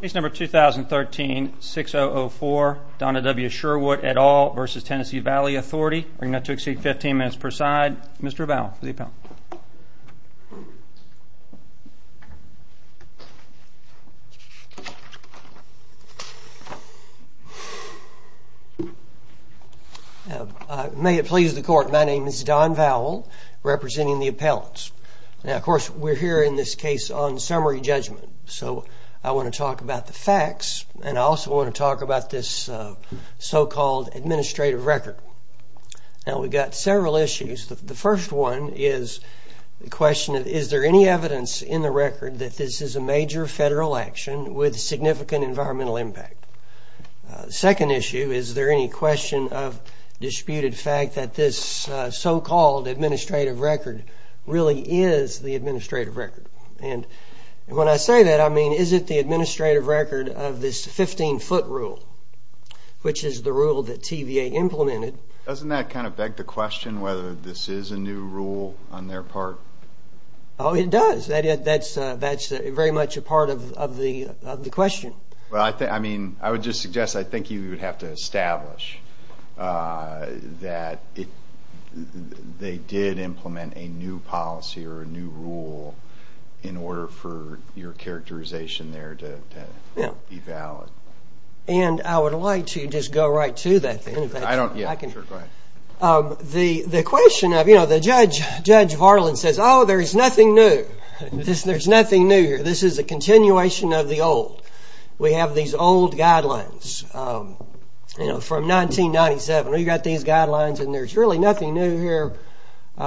Case number 2013-6004, Donna W. Sherwood et al. v. Tennessee Valley Authority. We're going to have to exceed 15 minutes per side. Mr. Vowell for the appellant. May it please the court, my name is Don Vowell representing the appellants. Now of course we're here in this case on summary judgment, so I want to talk about the facts and I also want to talk about this so-called administrative record. Now we've got several issues. The first one is the question is there any evidence in the record that this is a major federal action with significant environmental impact? The second issue is there any question of disputed fact that this so-called administrative record really is the administrative record? And when I say that I mean is it the administrative record of this 15-foot rule, which is the rule that TVA implemented? Doesn't that kind of beg the question whether this is a new rule on their part? Oh it does. That's very much a part of the question. I would just suggest I think you would have to establish that they did implement a new policy or a new rule in order for your characterization there to be valid. And I would like to just go right to that. The question of, you know, the Judge Varland says, oh there's nothing new. There's nothing new here. This is a continuation of the old. We have these old guidelines, you know, from 1997. We've got these guidelines and there's really nothing new here.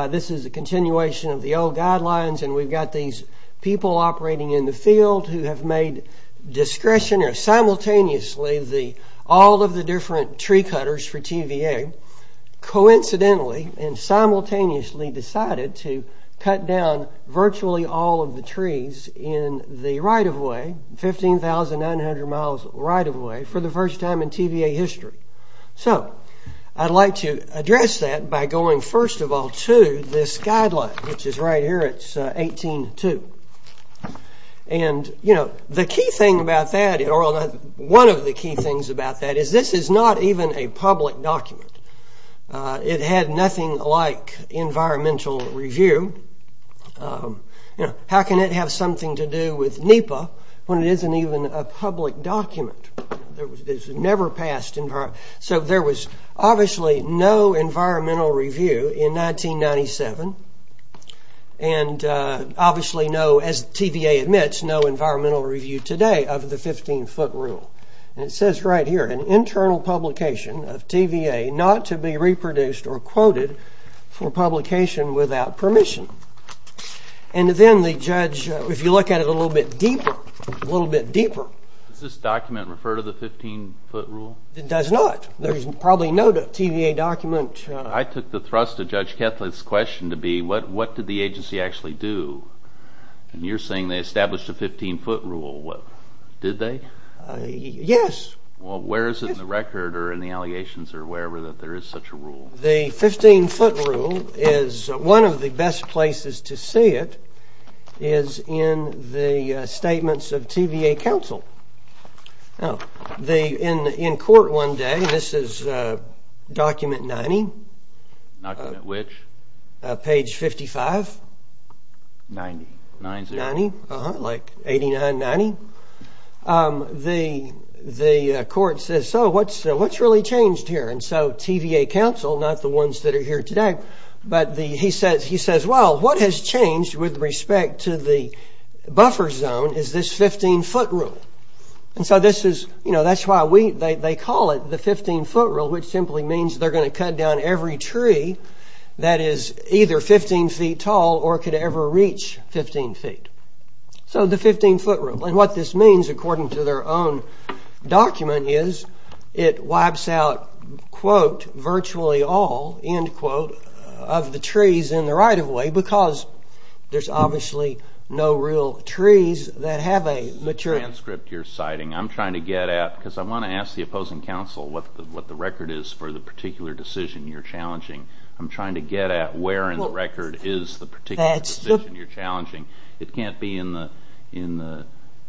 This is a continuation of the old guidelines and we've got these people operating in the field who have made discretionary, simultaneously, all of the different tree cutters for TVA coincidentally and simultaneously decided to cut down virtually all of the trees in the right-of-way, 15,900 miles right-of-way, for the first time in TVA history. So I'd like to address that by going first of all to this guideline, which is right here. It's 18-2. And, you know, the key thing about that, or one of the key things about that, is this is not even a public document. It had nothing like environmental review. You know, how can it have something to do with NEPA when it isn't even a public document? It's never passed. So there was obviously no environmental review in 1997 and obviously no, as TVA admits, no environmental review today of the 15-foot rule. And it says right here, an internal publication of TVA not to be reproduced or quoted for publication without permission. And then the judge, if you look at it a little bit deeper, a little bit deeper. Does this document refer to the 15-foot rule? It does not. There's probably no TVA document. I took the thrust of Judge Kethlett's question to be, what did the agency actually do? And you're saying they established a 15-foot rule. Did they? Yes. Well, where is it in the record or in the allegations or wherever that there is such a rule? The 15-foot rule is, one of the best places to see it is in the statements of TVA counsel. In court one day, this is document 90. Document which? Page 55. 90. Like 89-90. The court says, so what's really changed here? And so TVA counsel, not the ones that are here today, but he says, well, what has changed with respect to the buffer zone is this 15-foot rule. And so this is, you know, that's why we, they call it the 15-foot rule, which simply means they're going to cut down every tree that is either 15 feet tall or could ever reach 15 feet. So the 15-foot rule. And what this means, according to their own document, is it wipes out, quote, virtually all, end quote, of the trees in the right-of-way because there's obviously no real trees that have a mature... I'm trying to get at, because I want to ask the opposing counsel what the record is for the particular decision you're challenging. I'm trying to get at where in the record is the particular decision you're challenging. It can't be in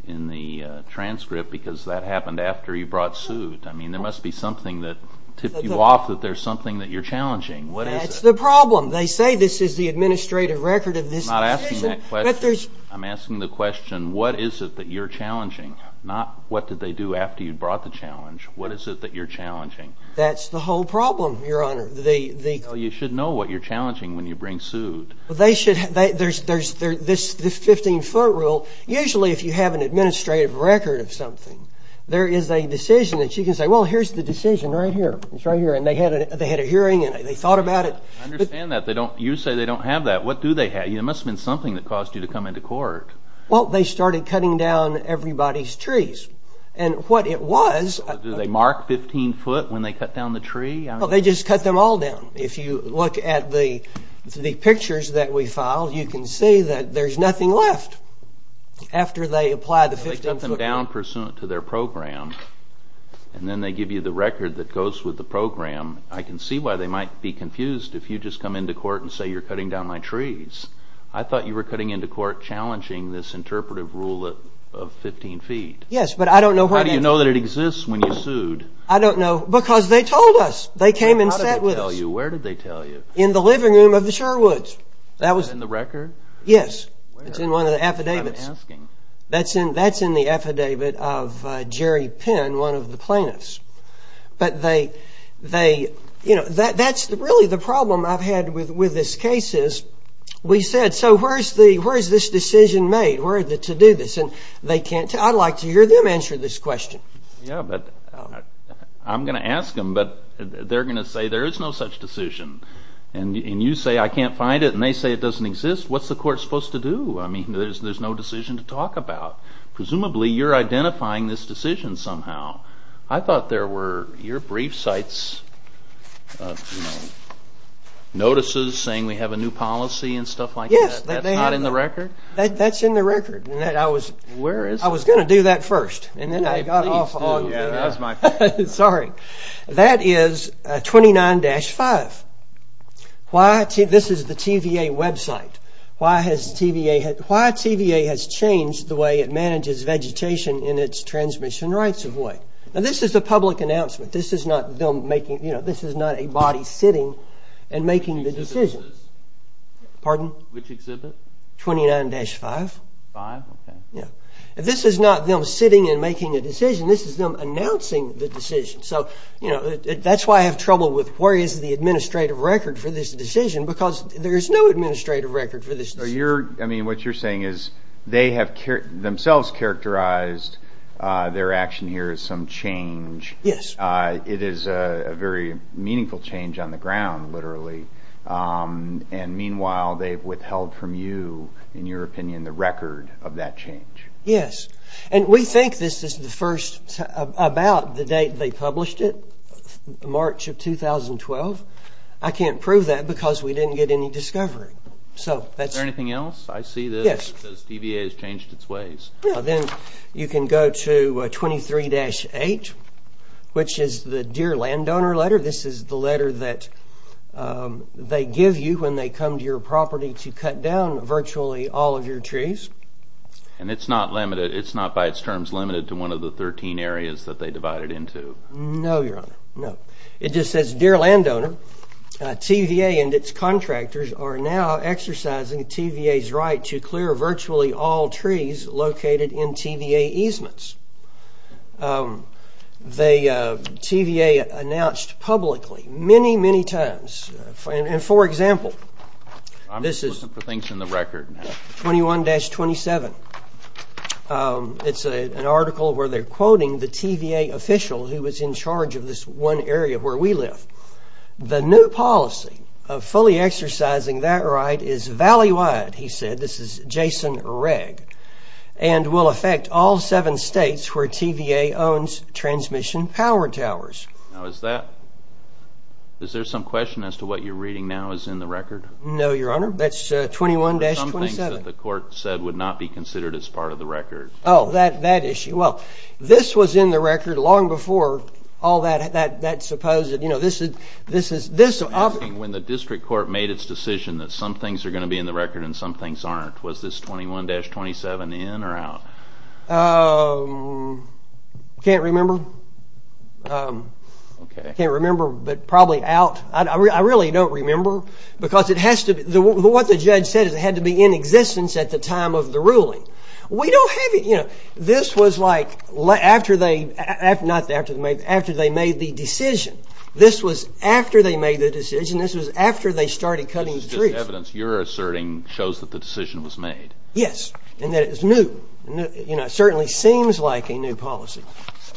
the transcript because that happened after you brought suit. I mean, there must be something that tipped you off that there's something that you're challenging. That's the problem. They say this is the administrative record of this decision. I'm not asking that question. I'm asking the question, what is it that you're challenging? Not what did they do after you brought the challenge. What is it that you're challenging? That's the whole problem, Your Honor. Well, you should know what you're challenging when you bring suit. They should, there's this 15-foot rule. Usually if you have an administrative record of something, there is a decision that you can say, well, here's the decision right here. It's right here. And they had a hearing and they thought about it. I understand that. You say they don't have that. What do they have? It must have been something that caused you to come into court. Well, they started cutting down everybody's trees. And what it was… Did they mark 15-foot when they cut down the tree? Well, they just cut them all down. If you look at the pictures that we filed, you can see that there's nothing left after they applied the 15-foot rule. They cut them down pursuant to their program and then they give you the record that goes with the program. I can see why they might be confused if you just come into court and say you're cutting down my trees. I thought you were cutting into court challenging this interpretive rule of 15 feet. Yes, but I don't know… How do you know that it exists when you sued? I don't know, because they told us. They came and sat with us. Where did they tell you? In the living room of the Sherwoods. Is that in the record? Yes, it's in one of the affidavits. It's in the affidavit of Jerry Penn, one of the plaintiffs. But they… That's really the problem I've had with this case is we said, so where is this decision made? Where is it to do this? I'd like to hear them answer this question. Yes, but I'm going to ask them, but they're going to say there is no such decision. And you say I can't find it and they say it doesn't exist. What's the court supposed to do? There's no decision to talk about. Maybe you're identifying this decision somehow. I thought there were your brief sites, notices saying we have a new policy and stuff like that. That's not in the record? That's in the record. Where is it? I was going to do that first. That is 29-5. This is the TVA website. Why has TVA… Why TVA has changed the way it manages vegetation in its transmission rights of way? Now this is a public announcement. This is not them making… This is not a body sitting and making the decision. Pardon? Which exhibit? 29-5. If this is not them sitting and making a decision, this is them announcing the decision. So that's why I have trouble with where is the administrative record for this decision because there is no administrative record for this decision. What you're saying is they have themselves characterized their action here as some change. Yes. It is a very meaningful change on the ground, literally. Meanwhile, they've withheld from you, in your opinion, the record of that change. Yes. We think this is about the date they published it, March of 2012. I can't prove that because we didn't get any discovery. Is there anything else? I see that TVA has changed its ways. Then you can go to 23-8, which is the Deer Landowner letter. This is the letter that they give you when they come to your property to cut down virtually all of your trees. And it's not by its terms limited to one of the 13 areas that they divided into? No, Your Honor. No. It just says, Dear Landowner, TVA and its contractors are now exercising TVA's right to clear virtually all trees located in TVA easements. TVA announced publicly many, many times, and for example, this is 21-27. It's an article where they're quoting the TVA official who was in charge of this one area where we live. The new policy of fully exercising that right is valley-wide, he said. This is Jason Regg. And will affect all seven states where TVA owns transmission power towers. Now is that, is there some question as to what you're reading now is in the record? No, Your Honor. That's 21-27. What about the things that the court said would not be considered as part of the record? Oh, that issue. Well, this was in the record long before all that supposed, you know, this is... I'm asking when the district court made its decision that some things are going to be in the record and some things aren't. Was this 21-27 in or out? I can't remember. Okay. I can't remember, but probably out. I really don't remember because it has to be, what the judge said is it had to be in existence at the time of the ruling. We don't have, you know, this was like after they, not after they made, after they made the decision. This was after they made the decision. This was after they started cutting the trees. This is just evidence you're asserting shows that the decision was made. Yes, and that it was new. You know, it certainly seems like a new policy.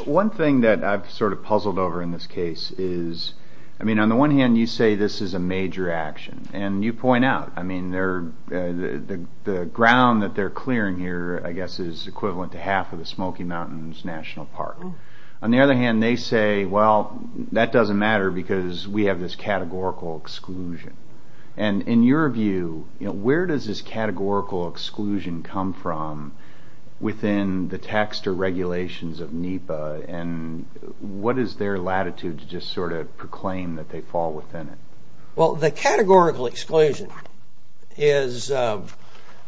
One thing that I've sort of puzzled over in this case is, I mean, on the one hand, you say this is a major action and you point out, I mean, the ground that they're clearing here, I guess, is equivalent to half of the Smoky Mountains National Park. On the other hand, they say, well, that doesn't matter because we have this categorical exclusion. And in your view, you know, where does this categorical exclusion come from within the text or regulations of NEPA? And what is their latitude to just sort of proclaim that they fall within it? Well, the categorical exclusion is, you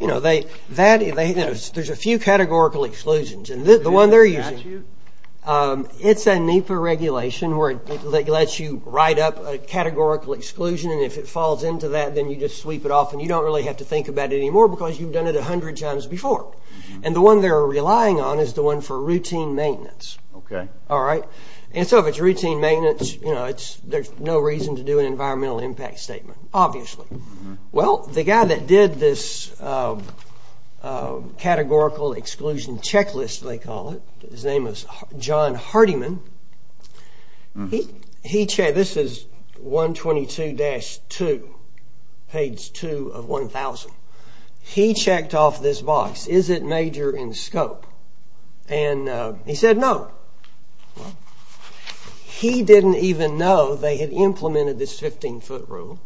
know, they, that, you know, there's a few categorical exclusions. And the one they're using, it's a NEPA regulation where it lets you write up a categorical exclusion. And if it falls into that, then you just sweep it off. And you don't really have to think about it anymore because you've done it a hundred times before. And the one they're relying on is the one for routine maintenance. Okay. All right. And so if it's routine maintenance, you know, it's, there's no reason to do an environmental impact statement, obviously. Well, the guy that did this categorical exclusion checklist, they call it, his name is John Hardiman. He checked, this is 122-2, page 2 of 1000. He checked off this box, is it major in scope? And he said no. He didn't even know they had implemented this 15-foot rule.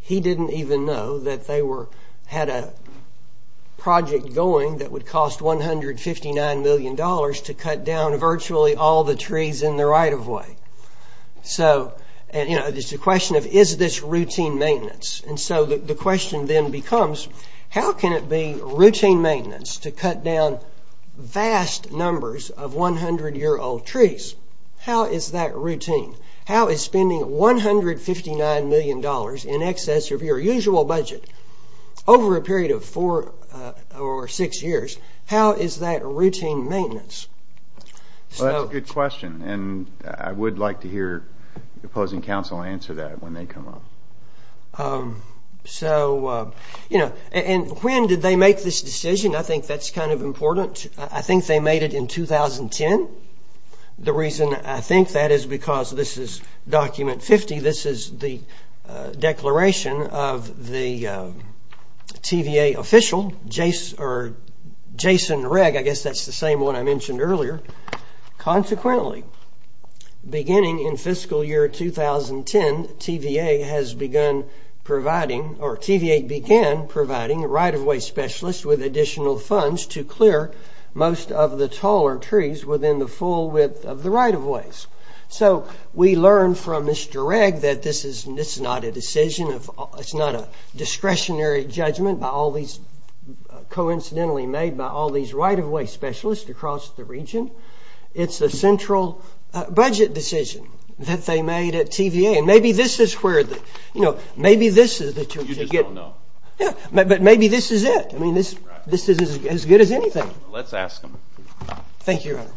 He didn't even know that they were, had a project going that would cost $159 million to cut down virtually all the trees in the right-of-way. So, and, you know, there's the question of, is this routine maintenance? And so the question then becomes, how can it be routine maintenance to cut down vast numbers of 100-year-old trees? How is that routine? How is spending $159 million in excess of your usual budget over a period of four or six years, how is that routine maintenance? Well, that's a good question. And I would like to hear opposing counsel answer that when they come up. So, you know, and when did they make this decision? I think that's kind of important. I think they made it in 2010. The reason I think that is because this is document 50. This is the declaration of the TVA official, Jason Rigg. I guess that's the same one I mentioned earlier. Consequently, beginning in fiscal year 2010, TVA has begun providing, or TVA began providing right-of-way specialists with additional funds to clear most of the taller trees within the full width of the right-of-ways. So we learned from Mr. Rigg that this is not a decision of, it's not a discretionary judgment by all these, coincidentally made by all these right-of-way specialists across the region. It's a central budget decision that they made at TVA. And maybe this is where the, you know, maybe this is the... You just don't know. Yeah, but maybe this is it. I mean, this is as good as anything. Let's ask him. Thank you, Your Honor. Thank you.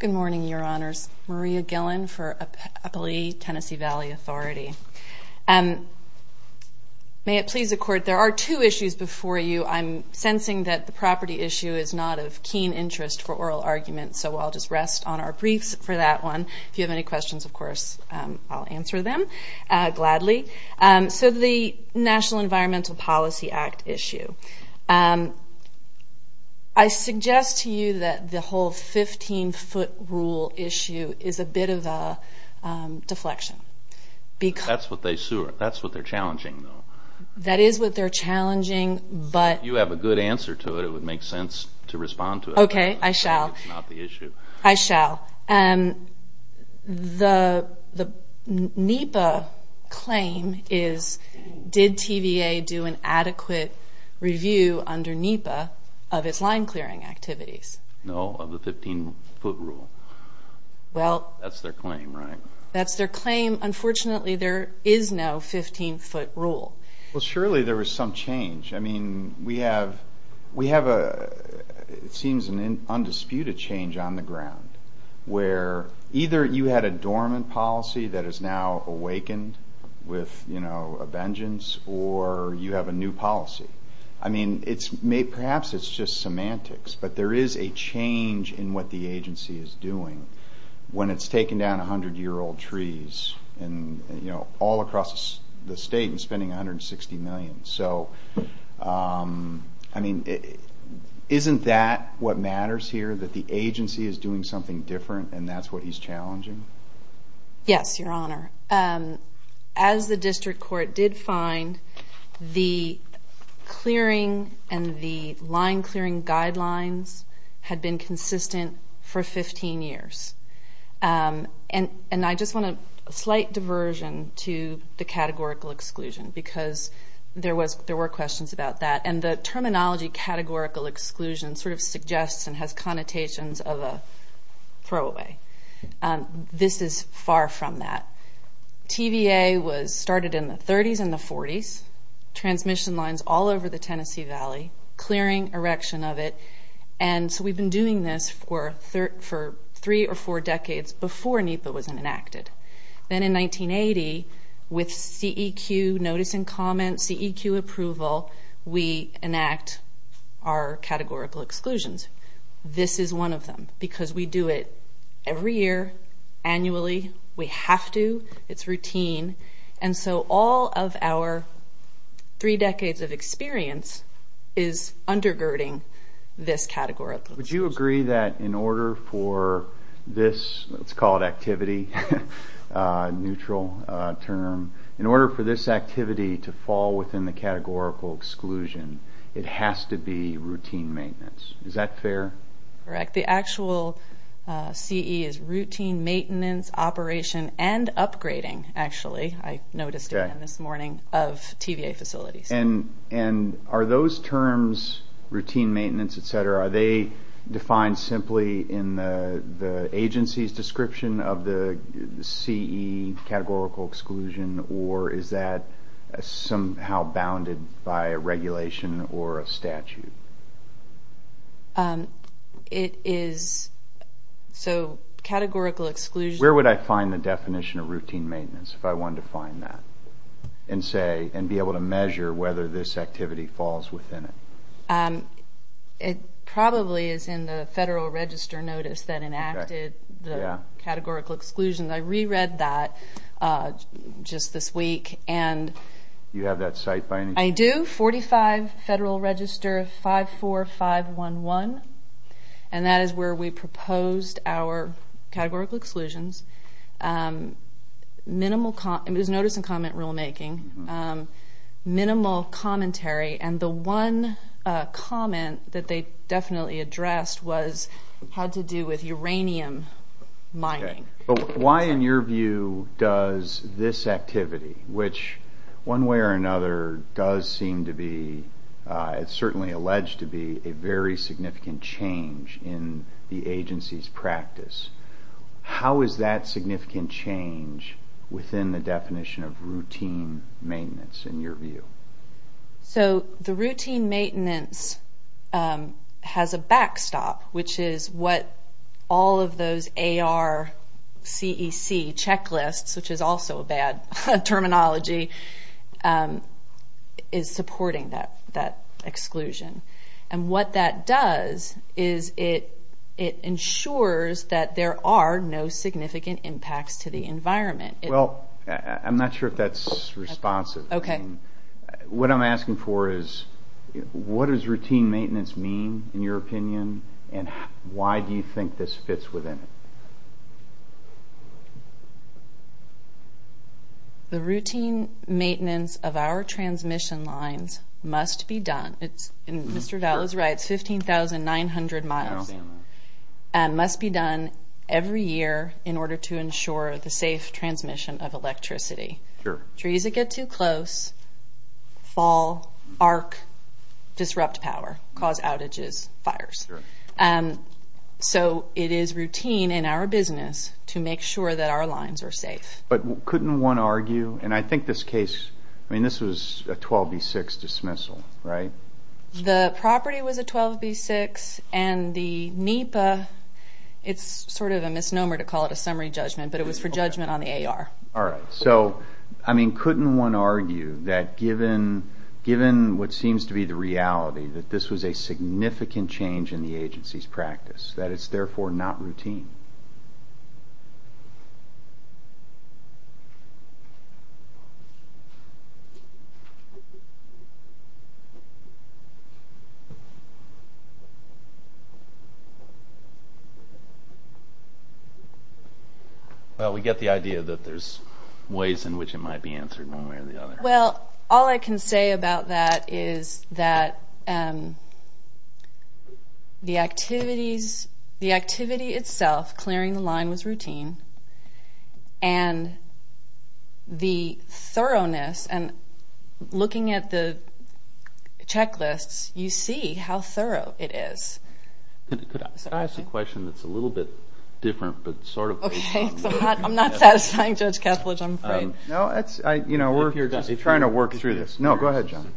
Good morning, Your Honors. Maria Gillen for Appali Tennessee Valley Authority. May it please the Court, there are two issues before you. I'm sensing that the property issue is not of keen interest for oral argument, so I'll just rest on our briefs for that one. If you have any questions, of course, I'll answer them gladly. So the National Environmental Policy Act issue. I suggest to you that the whole 15-foot rule issue is a bit of a deflection. That's what they're challenging, though. That is what they're challenging, but... If you have a good answer to it, it would make sense to respond to it. Okay, I shall. It's not the issue. I shall. The NEPA claim is, did TVA do an adequate review under NEPA of its line-clearing activities? No, of the 15-foot rule. Well... That's their claim, right? That's their claim. Unfortunately, there is no 15-foot rule. Well, surely there was some change. I mean, we have, it seems, an undisputed change on the ground, where either you had a dormant policy that is now awakened with a vengeance, or you have a new policy. I mean, perhaps it's just semantics, but there is a change in what the agency is doing when it's taken down 100-year-old trees all across the state and spending $160 million. So, I mean, isn't that what matters here, that the agency is doing something different, and that's what he's challenging? Yes, Your Honor. As the district court did find, the clearing and the line-clearing guidelines had been consistent for 15 years. And I just want a slight diversion to the categorical exclusion, because there were questions about that. And the terminology, categorical exclusion, sort of suggests and has connotations of a throwaway. This is far from that. TVA started in the 30s and the 40s, transmission lines all over the Tennessee Valley, clearing, erection of it. And so we've been doing this for three or four decades before NEPA was enacted. Then in 1980, with CEQ notice and comment, CEQ approval, we enact our categorical exclusions. This is one of them, because we do it every year, annually, we have to, it's routine. And so all of our three decades of experience is undergirding this categorical exclusion. Would you agree that in order for this, let's call it activity, neutral term, in order for this activity to fall within the categorical exclusion, it has to be routine maintenance. Is that fair? Correct. The actual CE is routine maintenance, operation, and upgrading, actually. I noticed it this morning, of TVA facilities. And are those terms, routine maintenance, et cetera, are they defined simply in the agency's description of the CE categorical exclusion? Or is that somehow bounded by a regulation or a statute? It is, so categorical exclusion... Where would I find the definition of routine maintenance if I wanted to find that? And say, and be able to measure whether this activity falls within it? It probably is in the Federal Register notice that enacted the categorical exclusion. I reread that just this week, and... Do you have that cite by any chance? I do, 45 Federal Register 54511, and that is where we proposed our categorical exclusions. Minimal, it was notice and comment rulemaking, minimal commentary, and the one comment that they definitely addressed was how to do with uranium mining. Why, in your view, does this activity, which one way or another does seem to be, it's certainly alleged to be a very significant change in the agency's practice, how is that significant change within the definition of routine maintenance, in your view? So the routine maintenance has a backstop, which is what all of those ARCEC checklists, which is also a bad terminology, is supporting that exclusion. And what that does is it ensures that there are no significant impacts to the environment. Well, I'm not sure if that's responsive. Okay. What I'm asking for is what does routine maintenance mean, in your opinion, and why do you think this fits within it? The routine maintenance of our transmission lines must be done, and Mr. Dowell is right, it's 15,900 miles, must be done every year in order to ensure the safe transmission of electricity. Trees that get too close, fall, arc, disrupt power, cause outages, fires. So it is routine in our business to make sure that our lines are safe. But couldn't one argue, and I think this case, I mean, this was a 12B6 dismissal, right? The property was a 12B6, and the NEPA, it's sort of a misnomer to call it a summary judgment, but it was for judgment on the AR. All right. So, I mean, couldn't one argue that given what seems to be the reality, that this was a significant change in the agency's practice, that it's therefore not routine? Well, we get the idea that there's ways in which it might be answered one way or the other. Well, all I can say about that is that the activities, the activity itself, clearing the line was routine, and the thoroughness, and looking at the checklists, you see how thorough it is. Could I ask a question that's a little bit different, but sort of? Okay. I'm not satisfying Judge Ketledge, I'm afraid. No, that's, you know, we're trying to work through this. No, go ahead, John.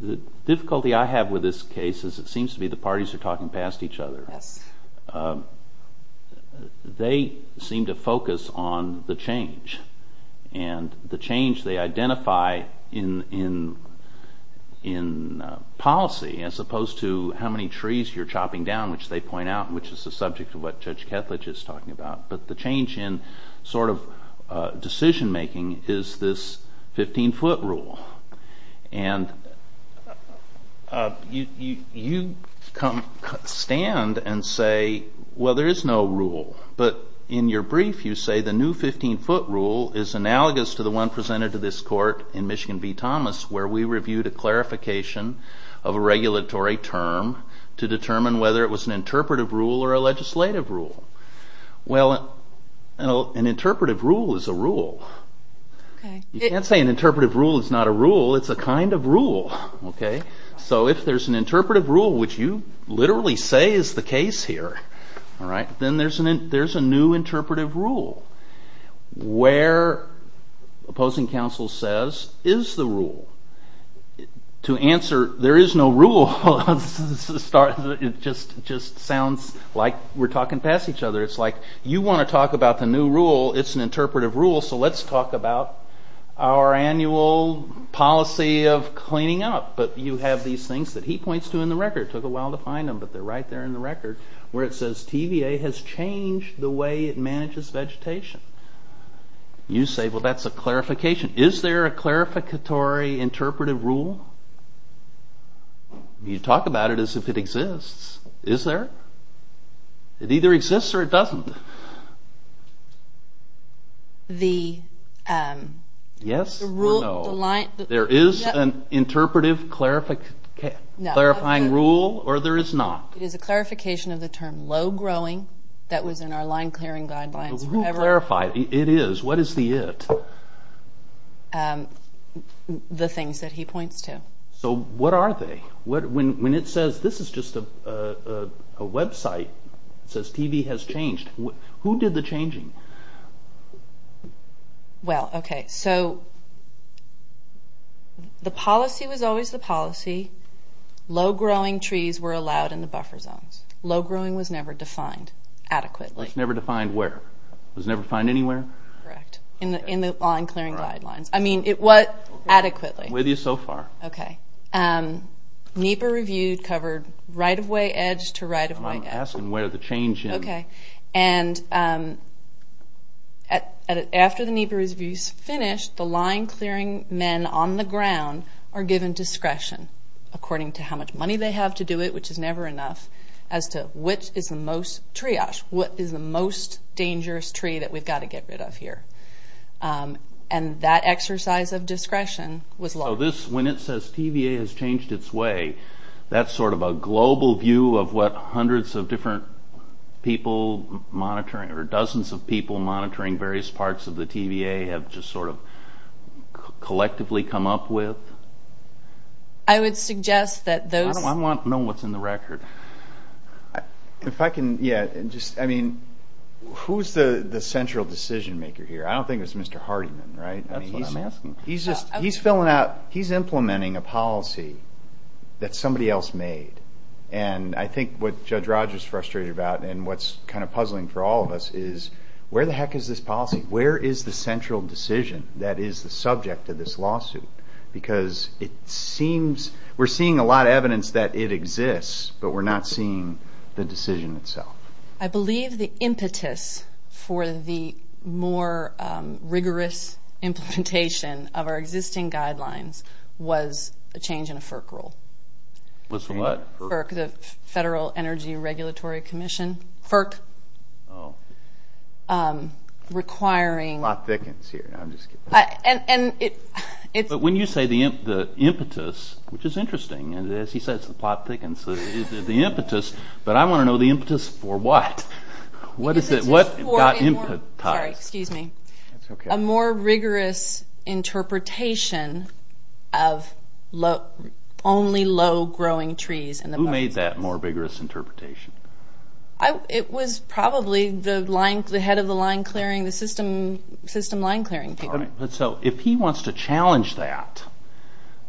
The difficulty I have with this case is it seems to be the parties are talking past each other. Yes. They seem to focus on the change, and the change they identify in policy, as opposed to how many trees you're chopping down, which they point out, which is the subject of what Judge Ketledge is talking about. But the change in sort of decision-making is this 15-foot rule. And you stand and say, well, there is no rule. But in your brief, you say the new 15-foot rule is analogous to the one presented to this court in Michigan v. Thomas, where we reviewed a clarification of a regulatory term to determine whether it was an interpretive rule or a legislative rule. Well, an interpretive rule is a rule. Okay. You can't say an interpretive rule is not a rule. It's a kind of rule. So if there's an interpretive rule, which you literally say is the case here, then there's a new interpretive rule. Where, opposing counsel says, is the rule. To answer, there is no rule, it just sounds like we're talking past each other. It's like, you want to talk about the new rule, it's an interpretive rule, so let's talk about our annual policy of cleaning up. But you have these things that he points to in the record. It took a while to find them, but they're right there in the record, where it says TVA has changed the way it manages vegetation. You say, well, that's a clarification. Is there a clarificatory interpretive rule? You talk about it as if it exists. Is there? It either exists or it doesn't. Yes or no? There is an interpretive clarifying rule or there is not? It is a clarification of the term low-growing that was in our line-clearing guidelines. Who clarified? It is. What is the it? The things that he points to. So what are they? When it says this is just a website that says TVA has changed, who did the changing? The policy was always the policy. Low-growing trees were allowed in the buffer zones. Low-growing was never defined adequately. It was never defined where? It was never defined anywhere? Correct. In the line-clearing guidelines. Adequately. With you so far. NEPA reviewed covered right-of-way edge to right-of-way edge. I'm asking where the change is. After the NEPA reviews finished, the line-clearing men on the ground are given discretion, according to how much money they have to do it, which is never enough, as to which is the most triage, what is the most dangerous tree that we've got to get rid of here. That exercise of discretion was long. When it says TVA has changed its way, that's sort of a global view of what hundreds of different people monitoring, or dozens of people monitoring various parts of the TVA have just sort of collectively come up with? I would suggest that those... I want to know what's in the record. If I can... Who's the central decision-maker here? I don't think it's Mr. Hardiman, right? That's what I'm asking. He's implementing a policy that somebody else made, and I think what Judge Rogers is frustrated about, and what's kind of puzzling for all of us, is where the heck is this policy? Where is the central decision that is the subject of this lawsuit? Because we're seeing a lot of evidence that it exists, but we're not seeing the decision itself. I believe the impetus for the more rigorous implementation of our existing guidelines was a change in a FERC rule. Was from what? FERC, the Federal Energy Regulatory Commission. FERC. Requiring... Plot thickens here, I'm just kidding. But when you say the impetus, which is interesting, and as he says, the plot thickens. The impetus, but I want to know the impetus for what? What is it? Sorry, excuse me. A more rigorous interpretation of only low-growing trees. Who made that more rigorous interpretation? It was probably the head of the line-clearing, the system line-clearing people. If he wants to challenge that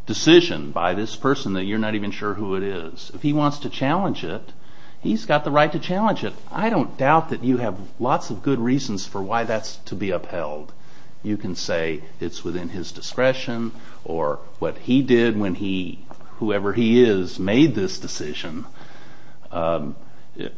decision by this person that you're not even sure who it is, if he wants to challenge it, he's got the right to challenge it. I don't doubt that you have lots of good reasons for why that's to be upheld. You can say it's within his discretion, or what he did when whoever he is made this decision,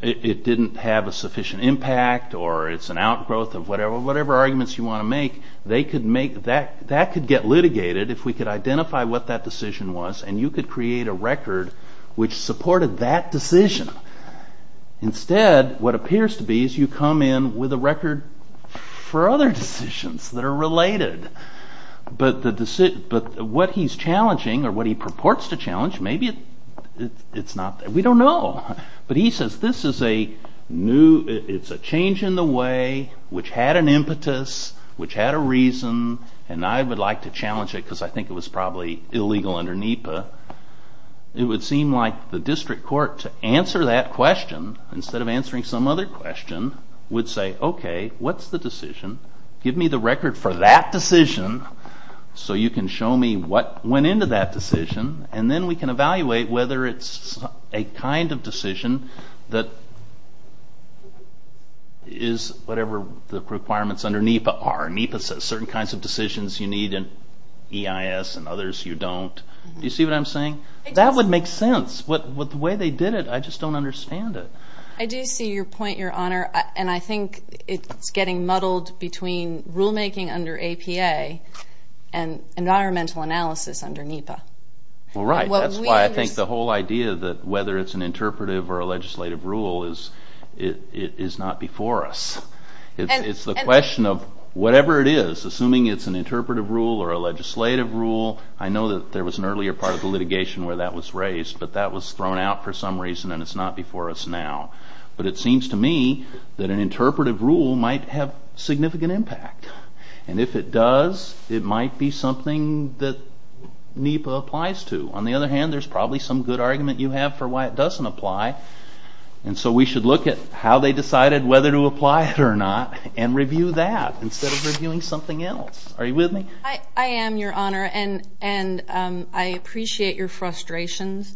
it didn't have a sufficient impact, or it's an outgrowth of whatever arguments you want to make. That could get litigated if we could identify what that decision was, and you could create a record which supported that decision. Instead, what appears to be is you come in with a record for other decisions that are related. But what he's challenging, or what he purports to challenge, maybe it's not...we don't know. But he says, this is a change in the way, which had an impetus, which had a reason, and I would like to challenge it because I think it was probably illegal under NEPA. It would seem like the district court, to answer that question, instead of answering some other question, would say, okay, what's the decision? Give me the record for that decision so you can show me what went into that decision, and then we can evaluate whether it's a kind of decision that is whatever the requirements under NEPA are. NEPA says certain kinds of decisions you need, and EIS and others you don't. Do you see what I'm saying? That would make sense, but the way they did it, I just don't understand it. I do see your point, Your Honor, and I think it's getting muddled between rulemaking under APA and environmental analysis under NEPA. Right, that's why I think the whole idea that whether it's an interpretive or a legislative rule is not before us. It's the question of whatever it is, assuming it's an interpretive rule or a legislative rule, I know that there was an earlier part of the litigation where that was raised, but that was thrown out for some reason and it's not before us now. But it seems to me that an interpretive rule might have significant impact. And if it does, it might be something that NEPA applies to. On the other hand, there's probably some good argument you have for why it doesn't apply, and so we should look at how they decided whether to apply it or not and review that instead of reviewing something else. Are you with me? I am, Your Honor, and I appreciate your frustrations.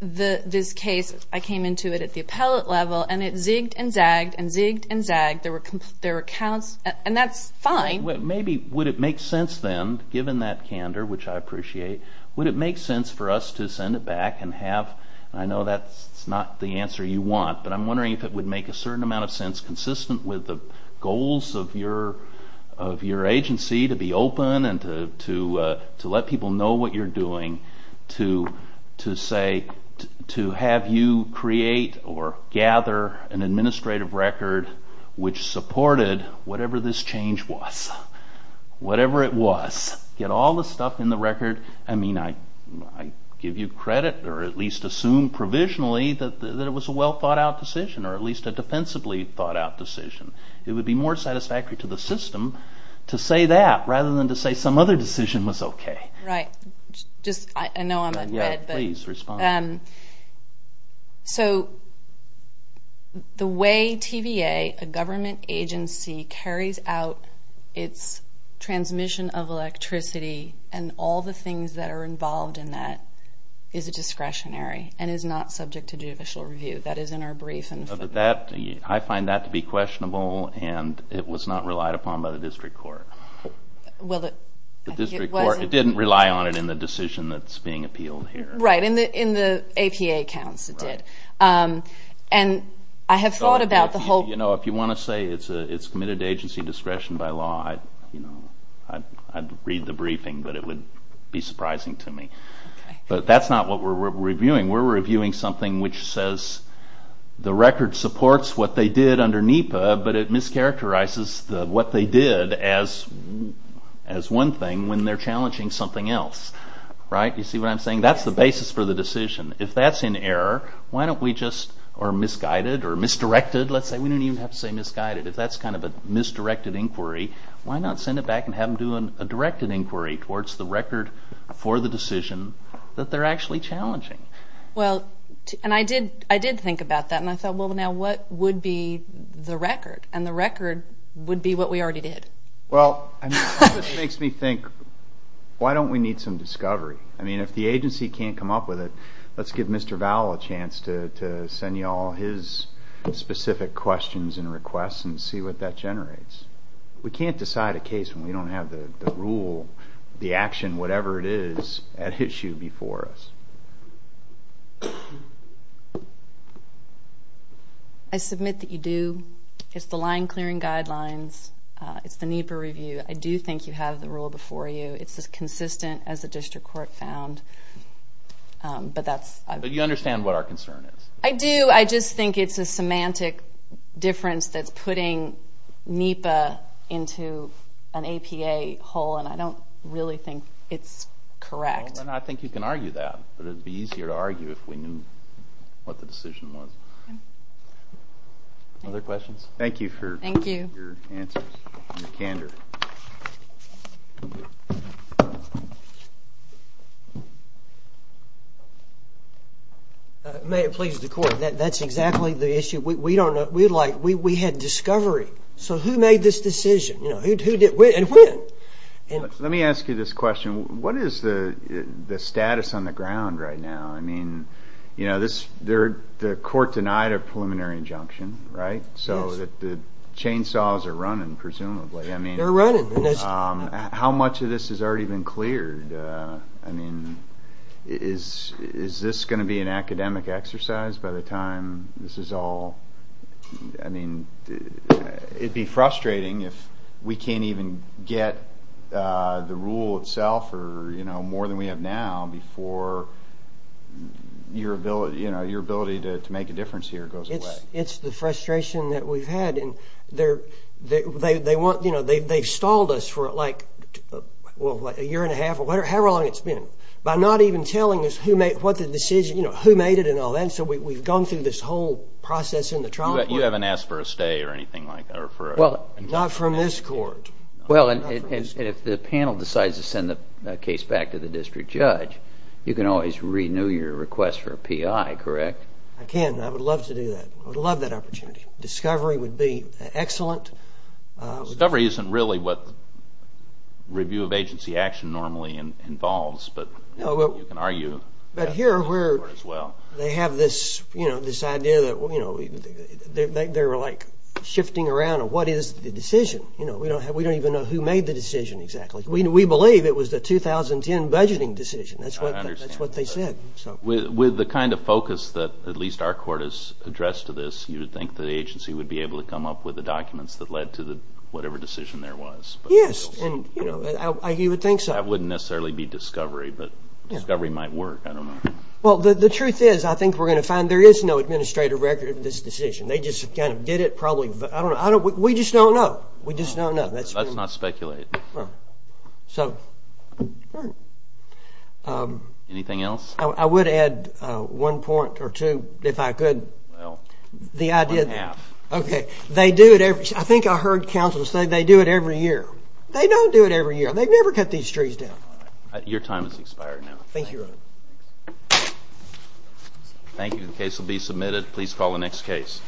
This case, I came into it at the appellate level, and it zigged and zagged and zigged and zagged. And that's fine. Maybe would it make sense then, given that candor, which I appreciate, would it make sense for us to send it back and have... I know that's not the answer you want, but I'm wondering if it would make a certain amount of sense consistent with the goals of your agency to be open and to let people know what you're doing to have you create or gather an administrative record which supported whatever this change was, whatever it was. Get all the stuff in the record. I mean, I give you credit, or at least assume provisionally that it was a well-thought-out decision or at least a defensively thought-out decision. It would be more satisfactory to the system to say that rather than to say some other decision was okay. Right. Just, I know I'm at red, but... Yeah, please, respond. So the way TVA, a government agency, carries out its transmission of electricity and all the things that are involved in that is a discretionary and is not subject to judicial review. That is in our brief. I find that to be questionable, and it was not relied upon by the district court. Well, I think it was... The district court didn't rely on it in the decision that's being appealed here. Right, in the APA accounts it did. And I have thought about the whole... You know, if you want to say it's committed to agency discretion by law, I'd read the briefing, but it would be surprising to me. But that's not what we're reviewing. We're reviewing something which says the record supports what they did under NEPA, but it mischaracterizes what they did as one thing when they're challenging something else. Right? You see what I'm saying? That's the basis for the decision. If that's in error, why don't we just... Or misguided or misdirected, let's say. We don't even have to say misguided. If that's kind of a misdirected inquiry, why not send it back and have them do a directed inquiry towards the record for the decision that they're actually challenging? Well, and I did think about that, and I thought, well, now, what would be the record? And the record would be what we already did. Well, this makes me think, why don't we need some discovery? I mean, if the agency can't come up with it, let's give Mr. Vowell a chance to send you all his specific questions and requests and see what that generates. We can't decide a case when we don't have the rule, the action, whatever it is, at issue before us. I submit that you do. It's the line-clearing guidelines. It's the NEPA review. I do think you have the rule before you. It's as consistent as the district court found, but that's... But you understand what our concern is? I do. I just think it's a semantic difference that's putting NEPA into an APA hole, and I don't really think it's correct. Well, then I think you can argue that, but it would be easier to argue if we knew what the decision was. Okay. Other questions? Thank you for your answers and your candor. May it please the court. That's exactly the issue. We had discovery. So who made this decision? And when? Let me ask you this question. What is the status on the ground right now? I mean, the court denied a preliminary injunction, right? Chainsaws are running, presumably. They're running. How much of this has already been cleared? I mean, is this going to be an academic exercise by the time this is all... I mean, it'd be frustrating if we can't even get the rule itself or more than we have now before your ability to make a difference here goes away. It's the frustration that we've had. They've stalled us for like a year and a half. How long has it been? By not even telling us who made it and all that. So we've gone through this whole process in the trial court. You haven't asked for a stay or anything like that? Not from this court. Well, and if the panel decides to send the case back to the district judge, you can always renew your request for a PI, correct? I can. I would love to do that. I would love that opportunity. Discovery would be excellent. Discovery isn't really what review of agency action normally involves, but you can argue... But here they have this idea that they're like shifting around of what is the decision. We don't even know who made the decision exactly. We believe it was the 2010 budgeting decision. That's what they said. With the kind of focus that at least our court has addressed to this, you would think the agency would be able to come up with the documents that led to whatever decision there was? Yes. You would think so. That wouldn't necessarily be Discovery, but Discovery might work. Well, the truth is, I think we're going to find there is no administrative record of this decision. They just kind of did it probably... We just don't know. Let's not speculate. So... Anything else? I would add one point or two if I could. Well, one and a half. Okay. They do it every... I think I heard counsel say they do it every year. They don't do it every year. They never cut these trees down. Your time has expired now. Thank you, Your Honor. Thank you. The case will be submitted. Please call the next case.